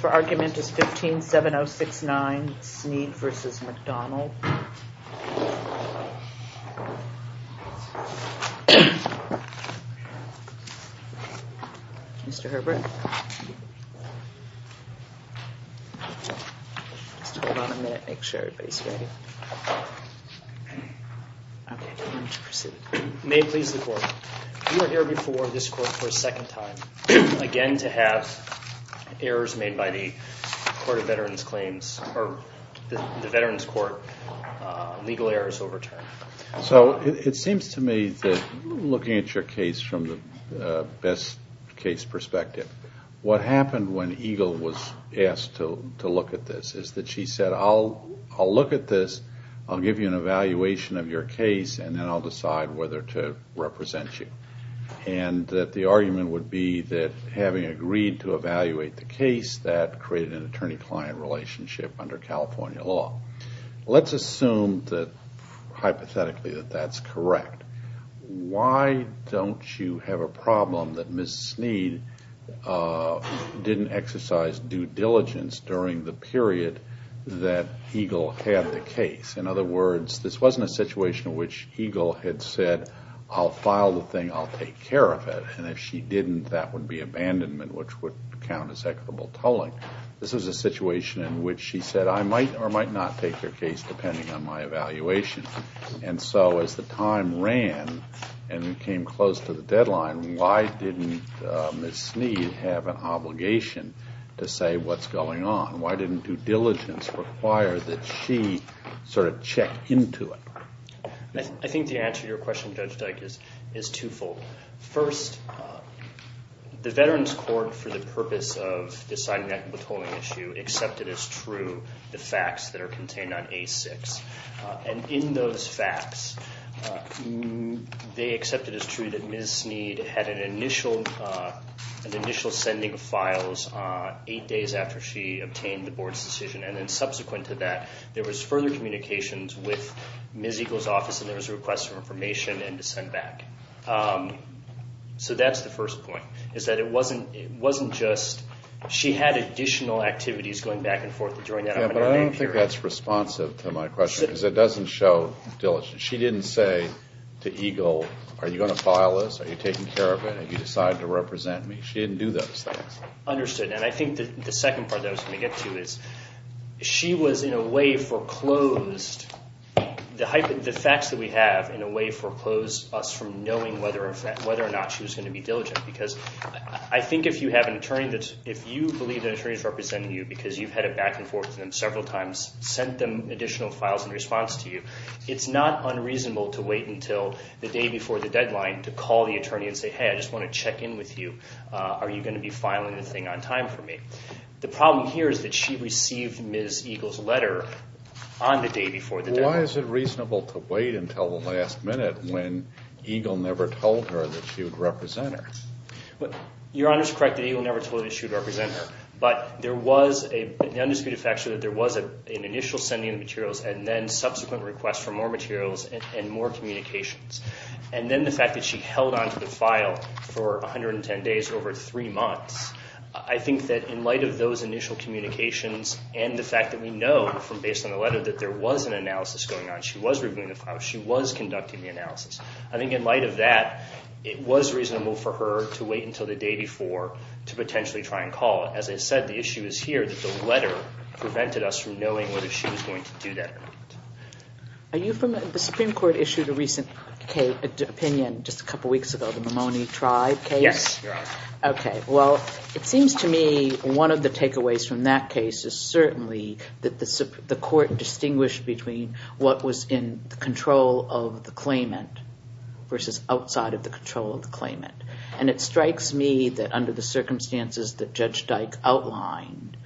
for argument is 157069 Sneed v. McDonald. Mr. Herbert, just hold on a minute, make sure everybody's ready. May it please the court, you are here before this court for a second time again to have errors made by the Court of Veterans Claims, or the Veterans Court, legal errors overturned. So it seems to me that looking at your case from the best case perspective, what happened when Eagle was asked to look at this is that she said, I'll look at this, I'll give you an evaluation of your case, and then I'll decide whether to represent you. And that the argument would be that having agreed to evaluate the case, that created an attorney-client relationship under California law. Let's assume that, hypothetically, that that's correct. Why don't you have a problem that Ms. Sneed didn't exercise due diligence during the period that Eagle had the case? In other words, this wasn't a situation in which Eagle had said, I'll file the thing, I'll take care of it. And if she didn't, that would be abandonment, which would count as equitable tolling. This was a situation in which she said, I might or might not take your case depending on my evaluation. And so as the time ran and it came close to the deadline, why didn't Ms. Sneed have an obligation to say what's going on? Why didn't due diligence require that she sort of check into it? I think the answer to your question, Judge Dyke, is twofold. First, the Veterans Court, for the purpose of deciding that withholding issue, accepted as true the facts that are contained on A6. And in those facts, they accepted as true that Ms. Sneed had an initial sending of files eight days after she obtained the Board's decision. And then subsequent to that, there was further communications with Ms. Eagle's office, and there was a request for information and to send back. So that's the first point, is that it wasn't just, she had additional activities going back and forth during that 100-day period. I think that's responsive to my question, because it doesn't show diligence. She didn't say to Eagle, are you going to file this? Are you taking care of it? Have you decided to represent me? She didn't do those things. Understood. And I think the second part that I was going to get to is, she was in a way foreclosed, the facts that we have in a way foreclosed us from knowing whether or not she was going to be diligent. Because I think if you have an attorney that's, if you believe an attorney is representing you because you've had it back and forth with them several times, sent them additional files in response to you, it's not unreasonable to wait until the day before the deadline to call the attorney and say, hey, I just want to check in with you. Are you going to be filing the thing on time for me? The problem here is that she received Ms. Eagle's letter on the day before the deadline. Why is it reasonable to wait until the last minute when Eagle never told her that she would represent her? Your Honor's correct that Eagle never told her that she would represent her. But there was an undisputed fact that there was an initial sending of materials and then subsequent requests for more materials and more communications. And then the fact that she held onto the file for 110 days over three months, I think that in light of those initial communications and the fact that we know from based on the letter that there was an analysis going on, she was reviewing the file, she was conducting the analysis. I think in light of that, it was reasonable for her to wait until the day before to potentially try and call. As I said, the issue is here that the letter prevented us from knowing whether she was going to do that or not. Are you familiar, the Supreme Court issued a recent opinion just a couple weeks ago, the Mamoni tribe case? Yes, Your Honor. Okay. Well, it seems to me one of the takeaways from that case is certainly that the court distinguished between what was in the control of the claimant versus outside of the control of the claimant. And it strikes me that under the circumstances that Judge Dyke outlined,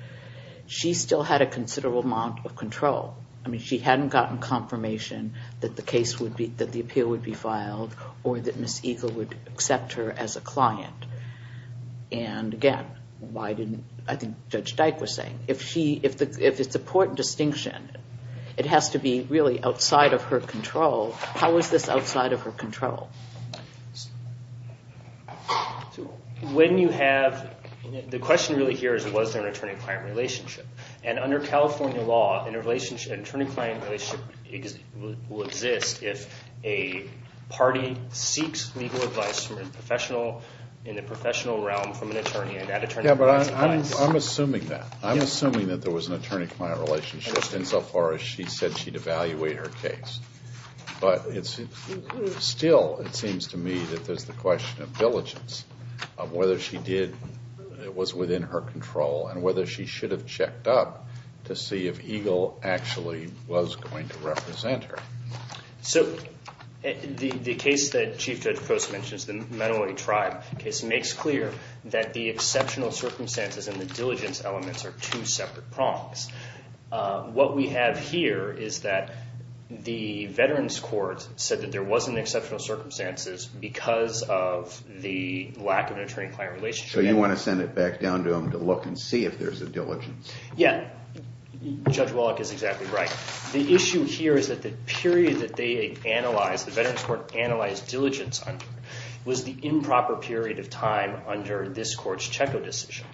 she still had a considerable amount of control. I mean, she hadn't gotten confirmation that the appeal would be filed or that Ms. Eagle would accept her as a client. And again, why didn't, I think Judge Dyke was saying, if it's a court distinction, it has to be really outside of her control. How is this outside of her control? When you have, the question really here is was there an attorney-client relationship? And under California law, an attorney-client relationship will exist if a party seeks legal advice from a professional, in the professional realm, from an attorney and that attorney provides advice. Yeah, but I'm assuming that. I'm assuming that there was an attorney-client relationship insofar as she said she'd evaluate her case. But still, it seems to me that there's the question of diligence of whether she did, was within her control and whether she should have checked up to see if Eagle actually was going to represent her. So the case that Chief Judge Post mentions, the Menoy tribe case, makes clear that the exceptional circumstances and the diligence elements are two separate prongs. What we have here is that the veterans court said that there was an exceptional circumstances because of the lack of an attorney-client relationship. So you want to send it back down to them to look and see if there's a diligence? Yeah, Judge Wallach is exactly right. The issue here is that the period that they analyzed, the veterans court analyzed diligence under, was the improper period of time under this court's Checco decision.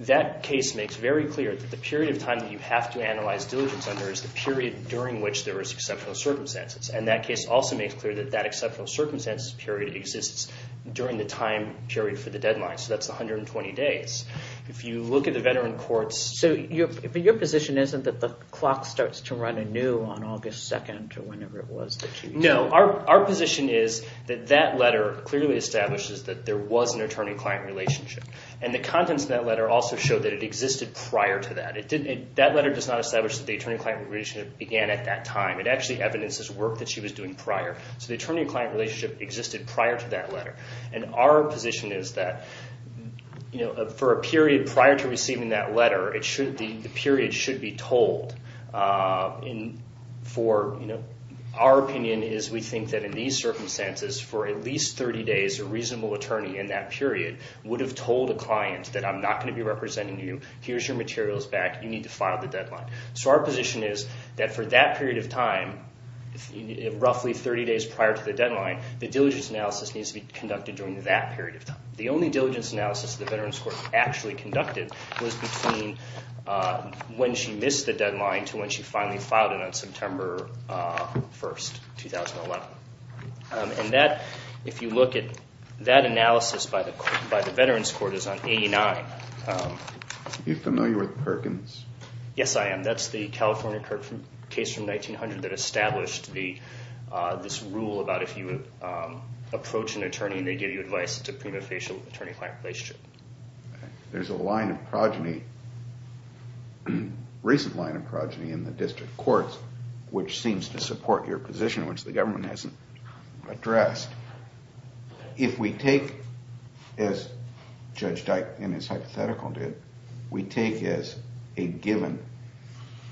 That case makes very clear that the period of time that you have to analyze diligence under is the period during which there was exceptional circumstances. And that case also makes clear that that exceptional circumstances period exists during the time period for the deadline. So that's 120 days. If you look at the veteran courts... So your position isn't that the clock starts to run anew on August 2nd or whenever it was that you... No, our position is that that letter clearly establishes that there was an attorney-client relationship. And the contents of that letter also show that it existed prior to that. That letter does not establish that the attorney-client relationship began at that time. It actually evidences work that she was doing prior. So the attorney-client relationship existed prior to that letter. And our position is that for a period prior to receiving that letter, the period should be told. Our opinion is we think that in these circumstances, for at least 30 days, a reasonable attorney in that period would have told a client that, I'm not going to be representing you. Here's your materials back. You need to file the deadline. So our position is that for that period of time, roughly 30 days prior to the deadline, the diligence analysis needs to be conducted during that period of time. The only diligence analysis the veterans court actually conducted was between when she missed the deadline to when she finally filed it on September 1st, 2011. And that, if you look at that analysis by the veterans court, is on 89. Are you familiar with Perkins? Yes, I am. And that's the California case from 1900 that established this rule about if you approach an attorney and they give you advice, it's a prima facie attorney-client relationship. There's a line of progeny, recent line of progeny in the district courts, which seems to support your position, which the government hasn't addressed. If we take, as Judge Dyke in his hypothetical did, we take as a given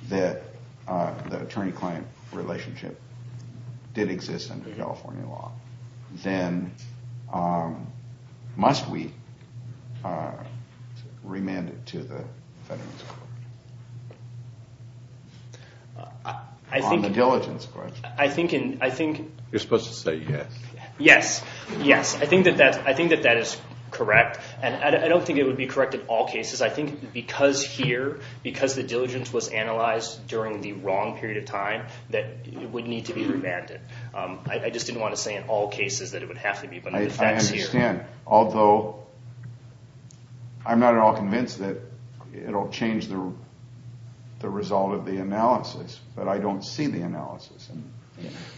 that the attorney-client relationship did exist under California law, then must we remand it to the veterans court? On the diligence question. You're supposed to say yes. Yes, yes. I think that that is correct, and I don't think it would be correct in all cases. I think because here, because the diligence was analyzed during the wrong period of time, that it would need to be remanded. I just didn't want to say in all cases that it would have to be, but that's here. I understand, although I'm not at all convinced that it will change the result of the analysis, but I don't see the analysis.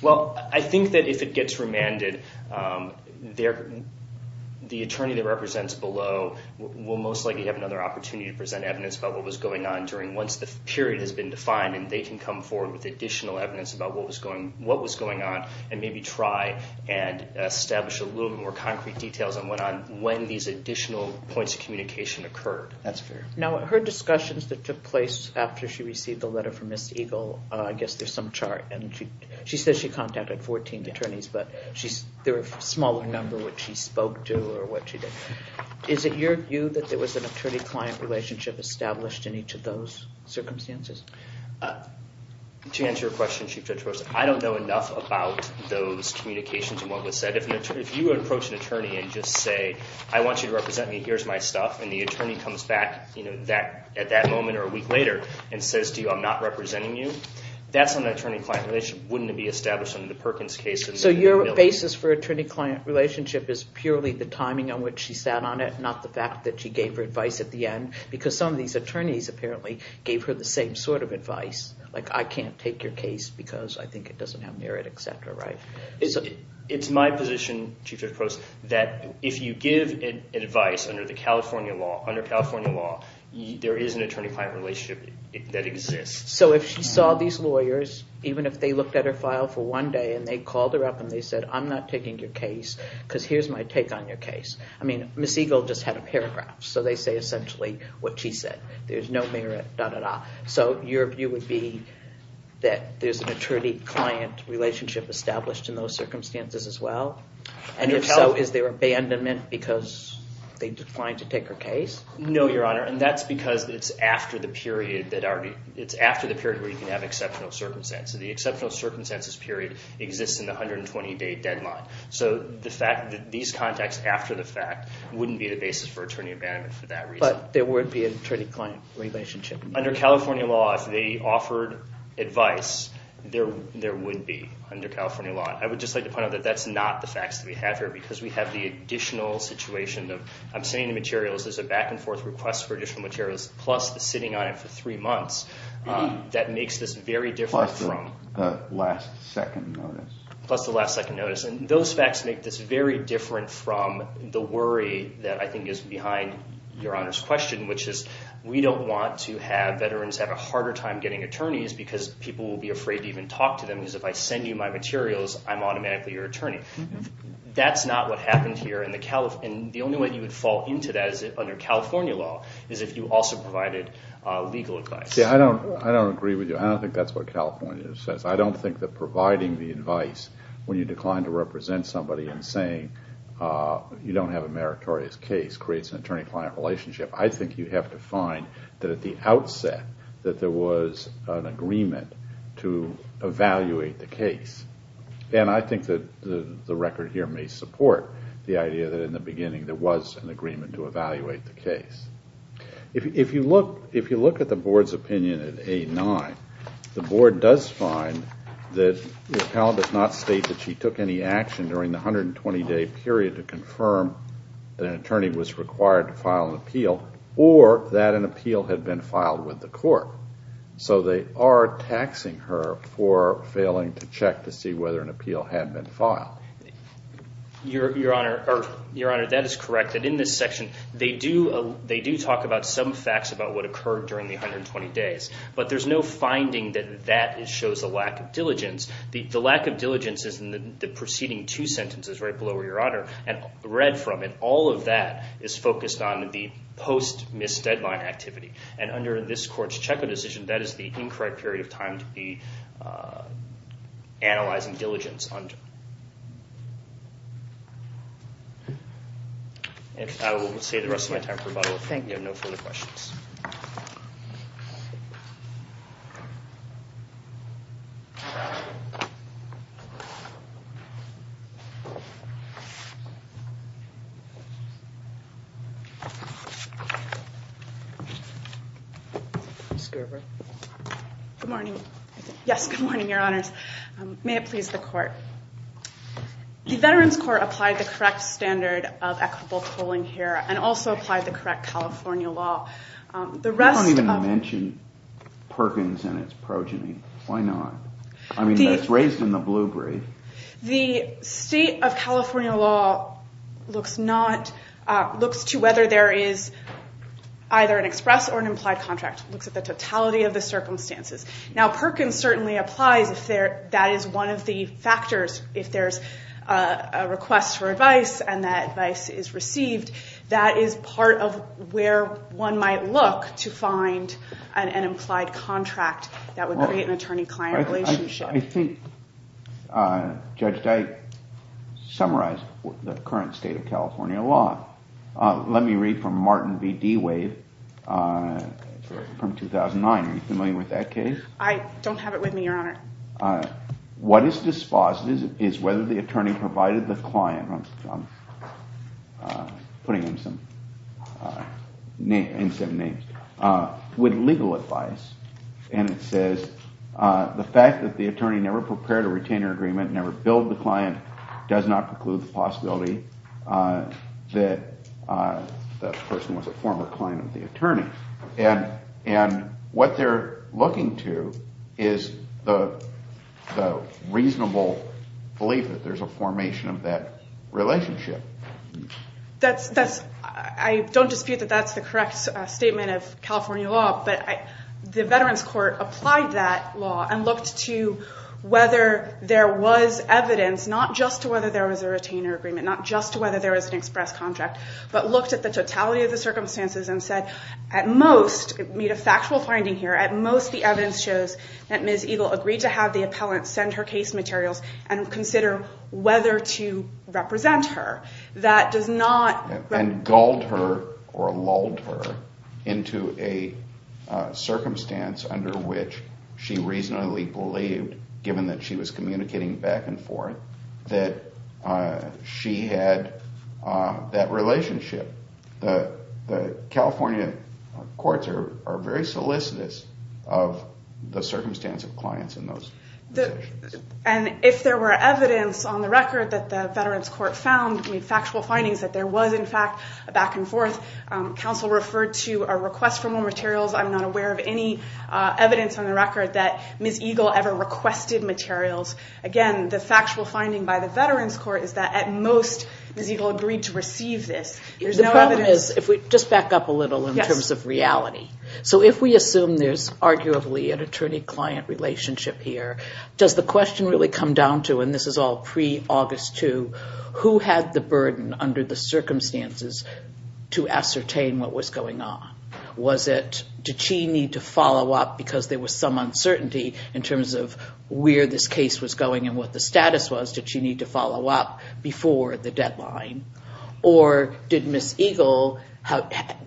Well, I think that if it gets remanded, the attorney that represents below will most likely have another opportunity to present evidence about what was going on during once the period has been defined, and they can come forward with additional evidence about what was going on, and maybe try and establish a little more concrete details on when these additional points of communication occurred. That's fair. Now, her discussions that took place after she received the letter from Ms. Eagle, I guess there's some chart. She says she contacted 14 attorneys, but there were a smaller number which she spoke to or what she did. Is it your view that there was an attorney-client relationship established in each of those circumstances? To answer your question, Chief Judge, I don't know enough about those communications and what was said. If you approach an attorney and just say, I want you to represent me, here's my stuff, and the attorney comes back at that moment or a week later and says to you, I'm not representing you, that's an attorney-client relationship. Wouldn't it be established under the Perkins case? So your basis for attorney-client relationship is purely the timing on which she sat on it, not the fact that she gave her advice at the end, because some of these attorneys apparently gave her the same sort of advice. Like, I can't take your case because I think it doesn't have merit, et cetera, right? It's my position, Chief Judge Prost, that if you give advice under the California law, under California law, there is an attorney-client relationship that exists. So if she saw these lawyers, even if they looked at her file for one day and they called her up and they said, I'm not taking your case because here's my take on your case. I mean, Ms. Eagle just had a paragraph, so they say essentially what she said. There's no merit, da-da-da. So your view would be that there's an attorney-client relationship established in those circumstances as well? And if so, is there abandonment because they declined to take her case? No, Your Honor, and that's because it's after the period where you can have exceptional circumstances. The exceptional circumstances period exists in the 120-day deadline. So the fact that these contacts after the fact wouldn't be the basis for attorney abandonment for that reason. But there would be an attorney-client relationship? Under California law, if they offered advice, there would be under California law. I would just like to point out that that's not the facts that we have here because we have the additional situation of I'm sending the materials. There's a back-and-forth request for additional materials plus the sitting on it for three months. That makes this very different from- Plus the last-second notice. Plus the last-second notice, and those facts make this very different from the worry that I think is behind Your Honor's question, which is we don't want to have veterans have a harder time getting attorneys because people will be afraid to even talk to them because if I send you my materials, I'm automatically your attorney. That's not what happened here, and the only way you would fall into that under California law is if you also provided legal advice. I don't agree with you. I don't think that's what California says. I don't think that providing the advice when you decline to represent somebody and saying you don't have a meritorious case creates an attorney-client relationship. I think you have to find that at the outset that there was an agreement to evaluate the case, and I think that the record here may support the idea that in the beginning there was an agreement to evaluate the case. If you look at the Board's opinion at A-9, the Board does find that the appellant does not state that she took any action during the 120-day period to confirm that an attorney was required to file an appeal or that an appeal had been filed with the court. So they are taxing her for failing to check to see whether an appeal had been filed. Your Honor, that is correct. In this section, they do talk about some facts about what occurred during the 120 days, but there's no finding that that shows a lack of diligence. The lack of diligence is in the preceding two sentences right below where you're at, and read from it. All of that is focused on the post-miss deadline activity, and under this Court's checkup decision, that is the incorrect period of time to be analyzing diligence under. I will say the rest of my time for about a week. Thank you. No further questions. Ms. Gerber. Good morning. Yes, good morning, Your Honors. May it please the Court, the Veterans Court applied the correct standard of equitable tolling here and also applied the correct California law. You don't even mention Perkins and its progeny. Why not? I mean, that's raised in the blue brief. The state of California law looks to whether there is either an express or an implied contract. It looks at the totality of the circumstances. Now, Perkins certainly applies if that is one of the factors. If there's a request for advice and that advice is received, that is part of where one might look to find an implied contract that would create an attorney-client relationship. I think Judge Dyke summarized the current state of California law. Let me read from Martin V. D. Wade from 2009. Are you familiar with that case? I don't have it with me, Your Honor. What is dispositive is whether the attorney provided the client, I'm putting in some names, with legal advice, and it says the fact that the attorney never prepared a retainer agreement, never billed the client, does not preclude the possibility that the person was a former client of the attorney. And what they're looking to is the reasonable belief that there's a formation of that relationship. I don't dispute that that's the correct statement of California law, but the Veterans Court applied that law and looked to whether there was evidence, not just to whether there was a retainer agreement, not just to whether there was an express contract, but looked at the totality of the circumstances and said at most, made a factual finding here, at most the evidence shows that Ms. Eagle agreed to have the appellant send her case materials and consider whether to represent her. That does not- And gulled her or lulled her into a circumstance under which she reasonably believed, given that she was communicating back and forth, that she had that relationship. The California courts are very solicitous of the circumstance of clients in those situations. And if there were evidence on the record that the Veterans Court found, factual findings that there was, in fact, a back and forth, counsel referred to a request for more materials. I'm not aware of any evidence on the record that Ms. Eagle ever requested materials. Again, the factual finding by the Veterans Court is that at most, Ms. Eagle agreed to receive this. The problem is, if we just back up a little in terms of reality. So if we assume there's arguably an attorney-client relationship here, does the question really come down to, and this is all pre-August 2, who had the burden under the circumstances to ascertain what was going on? Was it, did she need to follow up because there was some uncertainty in terms of where this case was going and what the status was? Did she need to follow up before the deadline? Or did Ms. Eagle,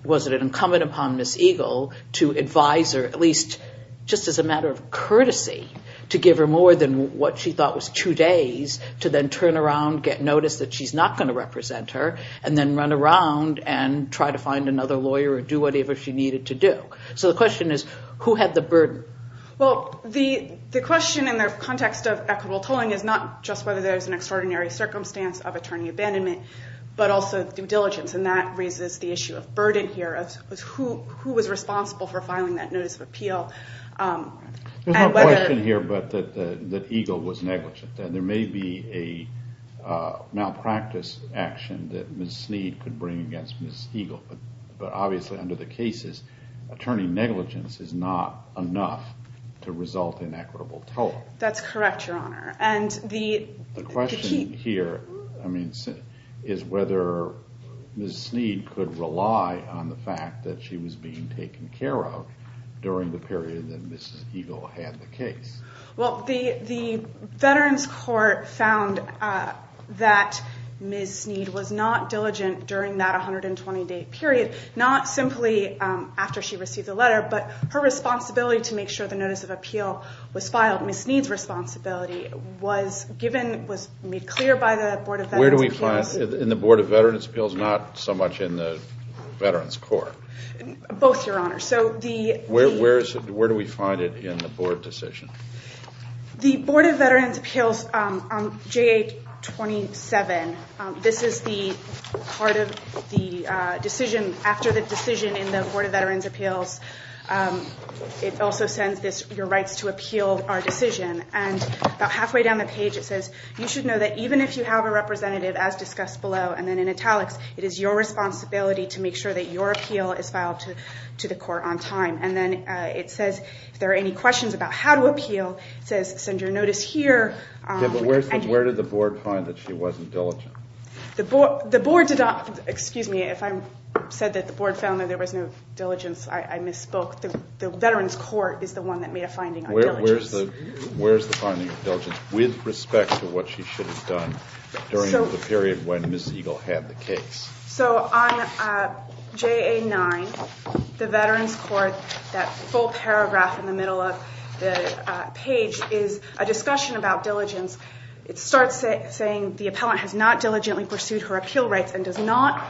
was it incumbent upon Ms. Eagle to advise her, at least just as a matter of courtesy, to give her more than what she thought was two days to then turn around, get notice that she's not going to represent her, and then run around and try to find another lawyer or do whatever she needed to do? So the question is, who had the burden? Well, the question in the context of equitable tolling is not just whether there's an extraordinary circumstance of attorney abandonment, but also due diligence, and that raises the issue of burden here, of who was responsible for filing that notice of appeal. There's no question here but that Eagle was negligent, and there may be a malpractice action that Ms. Snead could bring against Ms. Eagle, but obviously under the cases attorney negligence is not enough to result in equitable tolling. That's correct, Your Honor. The question here is whether Ms. Snead could rely on the fact that she was being taken care of during the period that Ms. Eagle had the case. Well, the Veterans Court found that Ms. Snead was not diligent during that 120-day period, not simply after she received the letter, but her responsibility to make sure the notice of appeal was filed, Ms. Snead's responsibility, was given, was made clear by the Board of Veterans' Appeals. Where do we find it in the Board of Veterans' Appeals, not so much in the Veterans Court? Both, Your Honor. Where do we find it in the board decision? The Board of Veterans' Appeals, JA-27. This is the part of the decision, after the decision in the Board of Veterans' Appeals, it also sends your rights to appeal our decision, and about halfway down the page it says, you should know that even if you have a representative, as discussed below, and then in italics, it is your responsibility to make sure that your appeal is filed to the court on time, and then it says if there are any questions about how to appeal, it says send your notice here. Where did the board find that she wasn't diligent? The board did not, excuse me, if I said that the board found that there was no diligence, I misspoke. The Veterans Court is the one that made a finding on diligence. Where is the finding of diligence with respect to what she should have done during the period when Ms. Eagle had the case? So on JA-9, the Veterans Court, that full paragraph in the middle of the page is a discussion about diligence. It starts saying the appellant has not diligently pursued her appeal rights and does not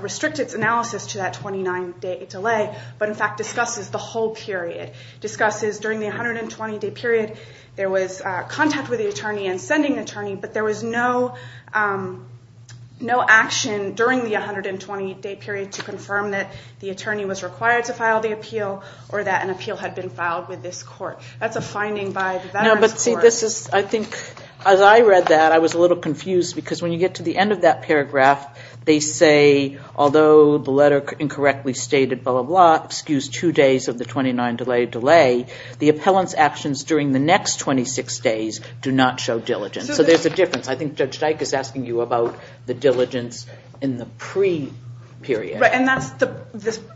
restrict its analysis to that 29-day delay, but in fact discusses the whole period, discusses during the 120-day period, there was contact with the attorney and sending the attorney, but there was no action during the 120-day period to confirm that the attorney was required to file the appeal or that an appeal had been filed with this court. That's a finding by the Veterans Court. No, but see, this is, I think, as I read that, I was a little confused because when you get to the end of that paragraph, they say although the letter incorrectly stated blah, blah, blah, excuse two days of the 29-day delay, the appellant's actions during the next 26 days do not show diligence. So there's a difference. I think Judge Dyke is asking you about the diligence in the pre-period. Right, and that's the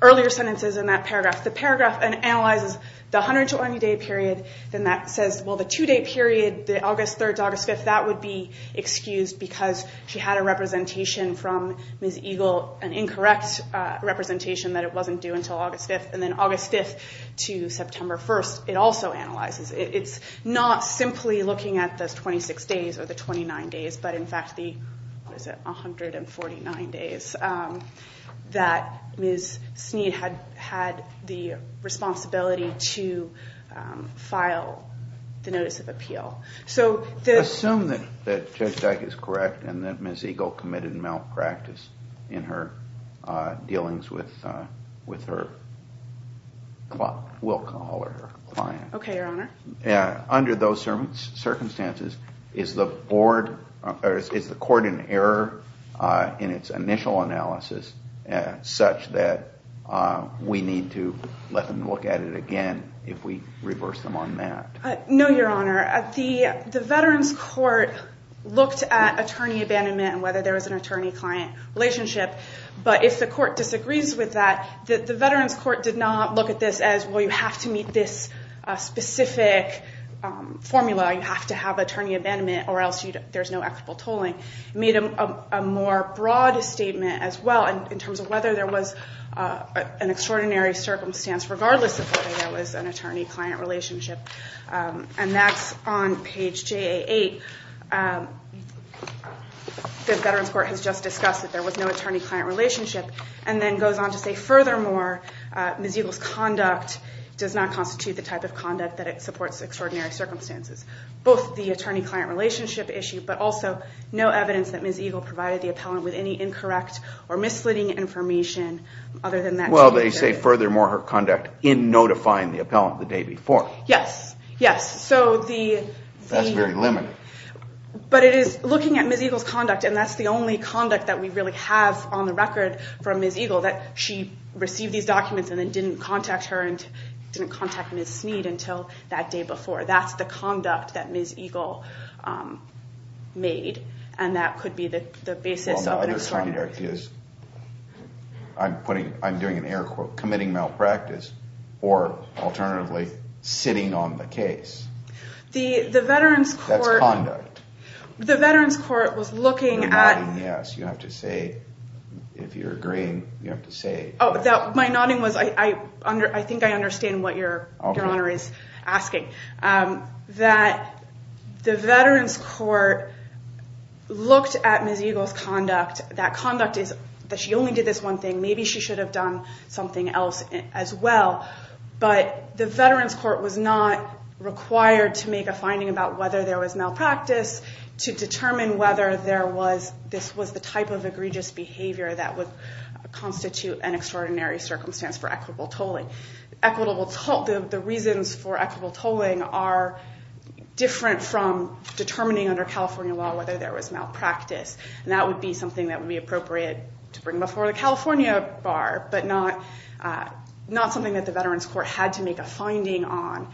earlier sentences in that paragraph. The paragraph analyzes the 120-day period, then that says, well, the two-day period, the August 3rd to August 5th, that would be excused because she had a representation from Ms. Eagle, an incorrect representation that it wasn't due until August 5th, and then August 5th to September 1st, it also analyzes. It's not simply looking at those 26 days or the 29 days, but in fact the 149 days that Ms. Snead had the responsibility to file the notice of appeal. Assume that Judge Dyke is correct and that Ms. Eagle committed malpractice in her dealings with her client. Okay, Your Honor. Under those circumstances, is the court in error in its initial analysis such that we need to let them look at it again if we reverse them on that? No, Your Honor. The Veterans Court looked at attorney abandonment and whether there was an attorney-client relationship, but if the court disagrees with that, the Veterans Court did not look at this as, well, you have to meet this specific formula. You have to have attorney abandonment or else there's no equitable tolling. It made a more broad statement as well in terms of whether there was an extraordinary circumstance regardless of whether there was an attorney-client relationship, and that's on page JA8. The Veterans Court has just discussed that there was no attorney-client relationship and then goes on to say, furthermore, Ms. Eagle's conduct does not constitute the type of conduct that it supports extraordinary circumstances, both the attorney-client relationship issue but also no evidence that Ms. Eagle provided the appellant with any incorrect or misleading information other than that. Well, they say, furthermore, her conduct in notifying the appellant the day before. Yes, yes. That's very limited. But it is looking at Ms. Eagle's conduct, and that's the only conduct that we really have on the record from Ms. Eagle, that she received these documents and then didn't contact her and didn't contact Ms. Snead until that day before. That's the conduct that Ms. Eagle made, and that could be the basis of an extraordinary circumstance. Well, the other conduct is, I'm doing an air quote, committing malpractice or, alternatively, sitting on the case. That's conduct. The Veterans Court was looking at... You're nodding yes. You have to say, if you're agreeing, you have to say. My nodding was I think I understand what Your Honor is asking. That the Veterans Court looked at Ms. Eagle's conduct, that conduct is that she only did this one thing. Maybe she should have done something else as well. But the Veterans Court was not required to make a finding about whether there was malpractice, to determine whether this was the type of egregious behavior that would constitute an extraordinary circumstance for equitable tolling. The reasons for equitable tolling are different from determining under California law whether there was malpractice. That would be something that would be appropriate to bring before the California bar, but not something that the Veterans Court had to make a finding on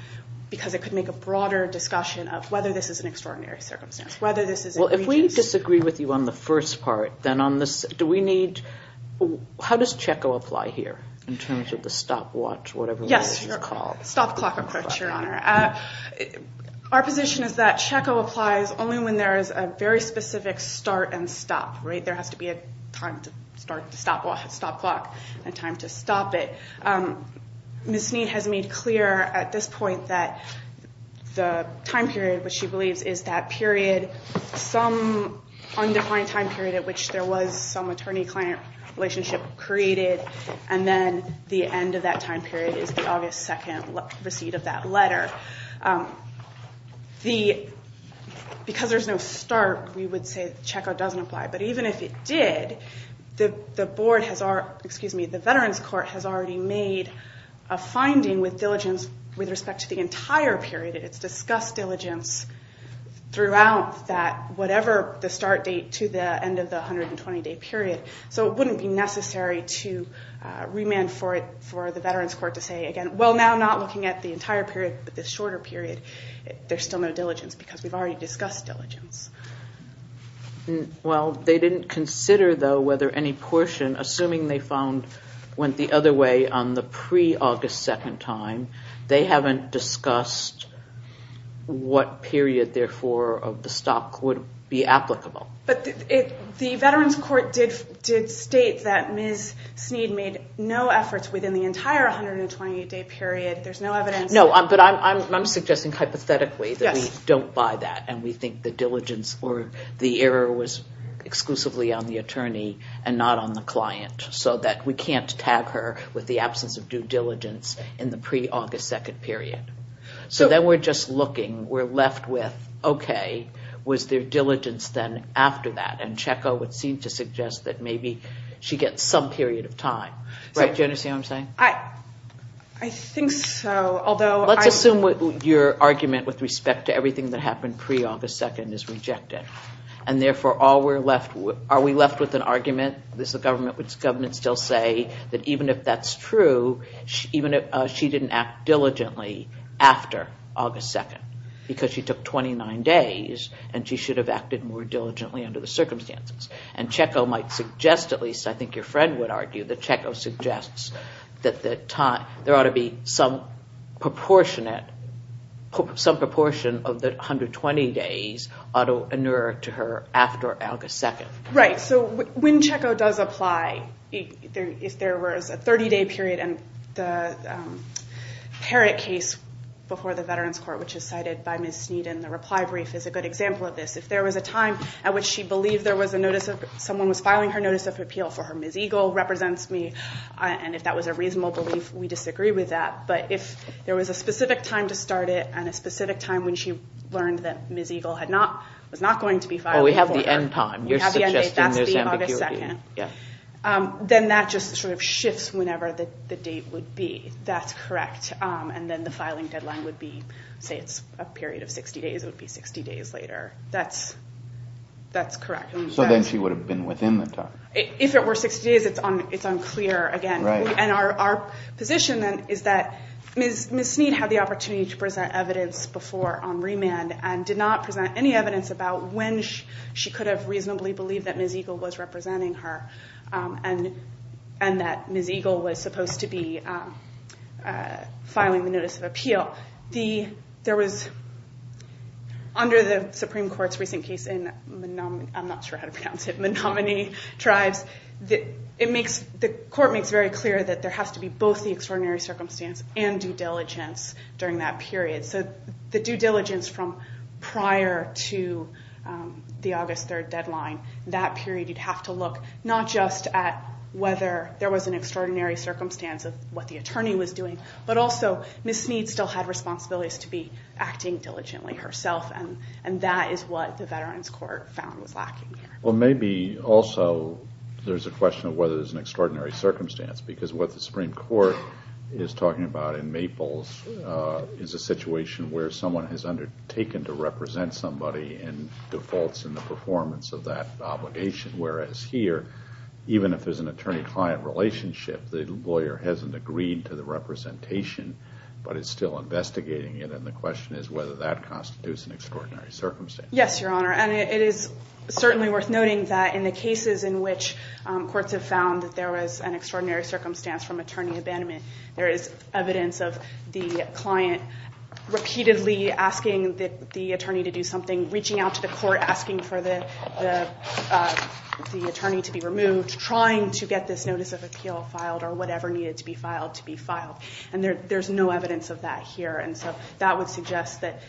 because it could make a broader discussion of whether this is an extraordinary circumstance, whether this is egregious. If we disagree with you on the first part, then on this, do we need, how does CECO apply here in terms of the stopwatch, whatever it is you call it? Yes, stop clock approach, Your Honor. Our position is that CECO applies only when there is a very specific start and stop. There has to be a time to start the stop clock and time to stop it. Ms. Snead has made clear at this point that the time period, which she believes is that period, some undefined time period at which there was some attorney-client relationship created, and then the end of that time period is the August 2nd receipt of that letter. Because there's no start, we would say CECO doesn't apply. But even if it did, the Veterans Court has already made a finding with diligence with respect to the entire period. It's discussed diligence throughout that, whatever the start date to the end of the 120-day period. So it wouldn't be necessary to remand for the Veterans Court to say, again, well, now not looking at the entire period, but the shorter period, there's still no diligence because we've already discussed diligence. Well, they didn't consider, though, whether any portion, assuming they found went the other way on the pre-August 2nd time, they haven't discussed what period, therefore, of the stop would be applicable. But the Veterans Court did state that Ms. Snead made no efforts within the entire 128-day period. There's no evidence. No, but I'm suggesting hypothetically that we don't buy that and we think the diligence or the error was exclusively on the attorney and not on the client so that we can't tag her with the absence of due diligence in the pre-August 2nd period. So then we're just looking. We're left with, okay, was there diligence then after that? And Checco would seem to suggest that maybe she gets some period of time. Do you understand what I'm saying? I think so. Let's assume your argument with respect to everything that happened pre-August 2nd is rejected. And therefore, are we left with an argument? Does the government still say that even if that's true, even if she didn't act diligently after August 2nd because she took 29 days and she should have acted more diligently under the circumstances? And Checco might suggest, at least I think your friend would argue, that Checco suggests that there ought to be some proportion of the 120 days ought to inure to her after August 2nd. Right. So when Checco does apply, if there was a 30-day period and the Herrick case before the Veterans Court, which is cited by Ms. Sneed in the reply brief, is a good example of this. If there was a time at which she believed someone was filing her notice of appeal for her Ms. Eagle represents me, and if that was a reasonable belief, we disagree with that. But if there was a specific time to start it and a specific time when she learned that Ms. Eagle was not going to be filed. Oh, we have the end time. We have the end date. That's the August 2nd. Then that just sort of shifts whenever the date would be. That's correct. And then the filing deadline would be, say it's a period of 60 days, it would be 60 days later. That's correct. So then she would have been within the time. If it were 60 days, it's unclear again. And our position then is that Ms. Sneed had the opportunity to present evidence before on remand and did not present any evidence about when she could have reasonably believed that Ms. Eagle was representing her and that Ms. Eagle was supposed to be filing the notice of appeal. There was, under the Supreme Court's recent case in Menominee Tribes, the court makes very clear that there has to be both the extraordinary circumstance and due diligence during that period. So the due diligence from prior to the August 3rd deadline, that period you'd have to look, not just at whether there was an extraordinary circumstance of what the attorney was doing, but also Ms. Sneed still had responsibilities to be acting diligently herself, and that is what the Veterans Court found was lacking there. Well, maybe also there's a question of whether there's an extraordinary circumstance because what the Supreme Court is talking about in Maples is a situation where someone has undertaken to represent somebody and defaults in the performance of that obligation, whereas here, even if there's an attorney-client relationship, the lawyer hasn't agreed to the representation but is still investigating it, and the question is whether that constitutes an extraordinary circumstance. Yes, Your Honor, and it is certainly worth noting that in the cases in which courts have found that there was an extraordinary circumstance from attorney abandonment, there is evidence of the client repeatedly asking the attorney to do something, reaching out to the court asking for the attorney to be removed, trying to get this notice of appeal filed or whatever needed to be filed to be filed, and there's no evidence of that here, and so that would suggest that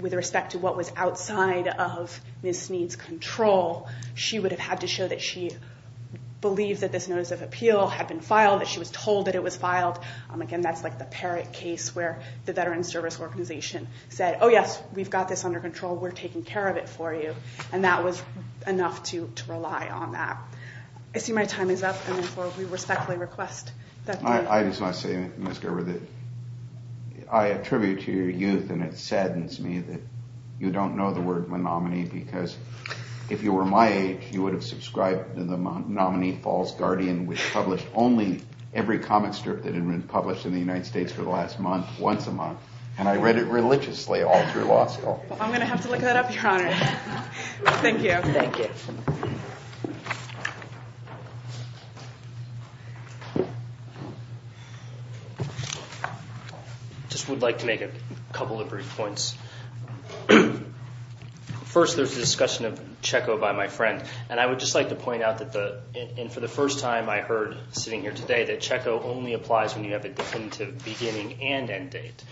with respect to what was outside of Ms. Sneed's control, she would have had to show that she believed that this notice of appeal had been filed, that she was told that it was filed. Again, that's like the Parrott case where the Veterans Service Organization said, oh, yes, we've got this under control, we're taking care of it for you, and that was enough to rely on that. I see my time is up, and therefore we respectfully request that the... I just want to say, Ms. Gerber, that I attribute to your youth, and it saddens me that you don't know the word monomany because if you were my age, you would have subscribed to the nominee Falls Guardian, which published only every comic strip that had been published in the United States for the last month, once a month, and I read it religiously all through law school. I'm going to have to look that up, Your Honor. Thank you. Thank you. I just would like to make a couple of brief points. First, there's a discussion of Checo by my friend, and I would just like to point out that for the first time I heard sitting here today that Checo only applies when you have a definitive beginning and end date.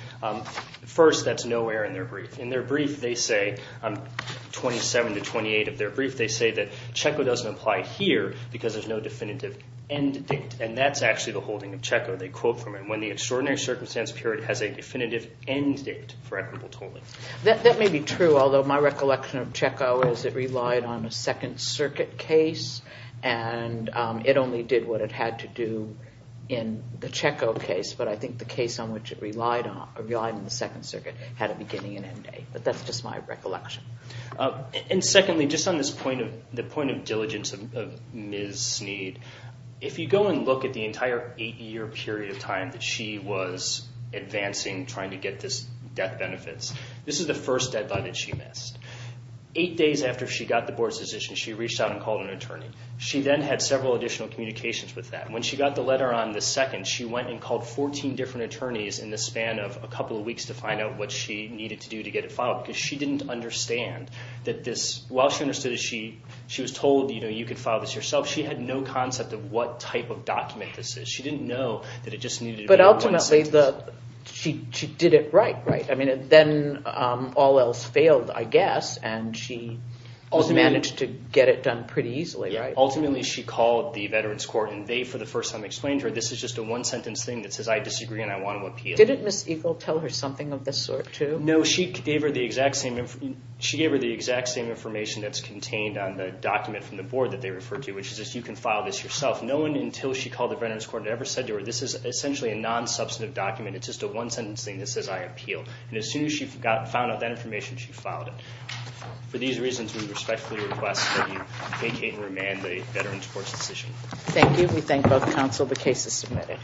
First, that's nowhere in their brief. In their brief, they say, 27 to 28 of their brief, they say that Checo doesn't apply here because there's no definitive end date, and that's actually the holding of Checo. They quote from it, has a definitive end date for equitable tolling. That may be true, although my recollection of Checo is it relied on a Second Circuit case, and it only did what it had to do in the Checo case, but I think the case on which it relied on in the Second Circuit had a beginning and end date, but that's just my recollection. And secondly, just on the point of diligence of Ms. Snead, if you go and look at the entire eight-year period of time that she was advancing, trying to get this death benefits, this is the first deadline that she missed. Eight days after she got the board's decision, she reached out and called an attorney. She then had several additional communications with that, and when she got the letter on the 2nd, she went and called 14 different attorneys in the span of a couple of weeks to find out what she needed to do to get it filed because she didn't understand that this, while she understood that she was told you could file this yourself, she had no concept of what type of document this is. She didn't know that it just needed to be one sentence. But ultimately, she did it right, right? I mean, then all else failed, I guess, and she also managed to get it done pretty easily, right? Ultimately, she called the Veterans Court, and they, for the first time, explained to her this is just a one-sentence thing that says I disagree and I want to appeal. Didn't Ms. Eagle tell her something of this sort too? No, she gave her the exact same information that's contained on the document from the board that they referred to, which is you can file this yourself. No one, until she called the Veterans Court, had ever said to her this is essentially a non-substantive document. It's just a one-sentence thing that says I appeal. And as soon as she found out that information, she filed it. For these reasons, we respectfully request that you vacate and remand the Veterans Court's decision. Thank you. We thank both counsel. The case is submitted.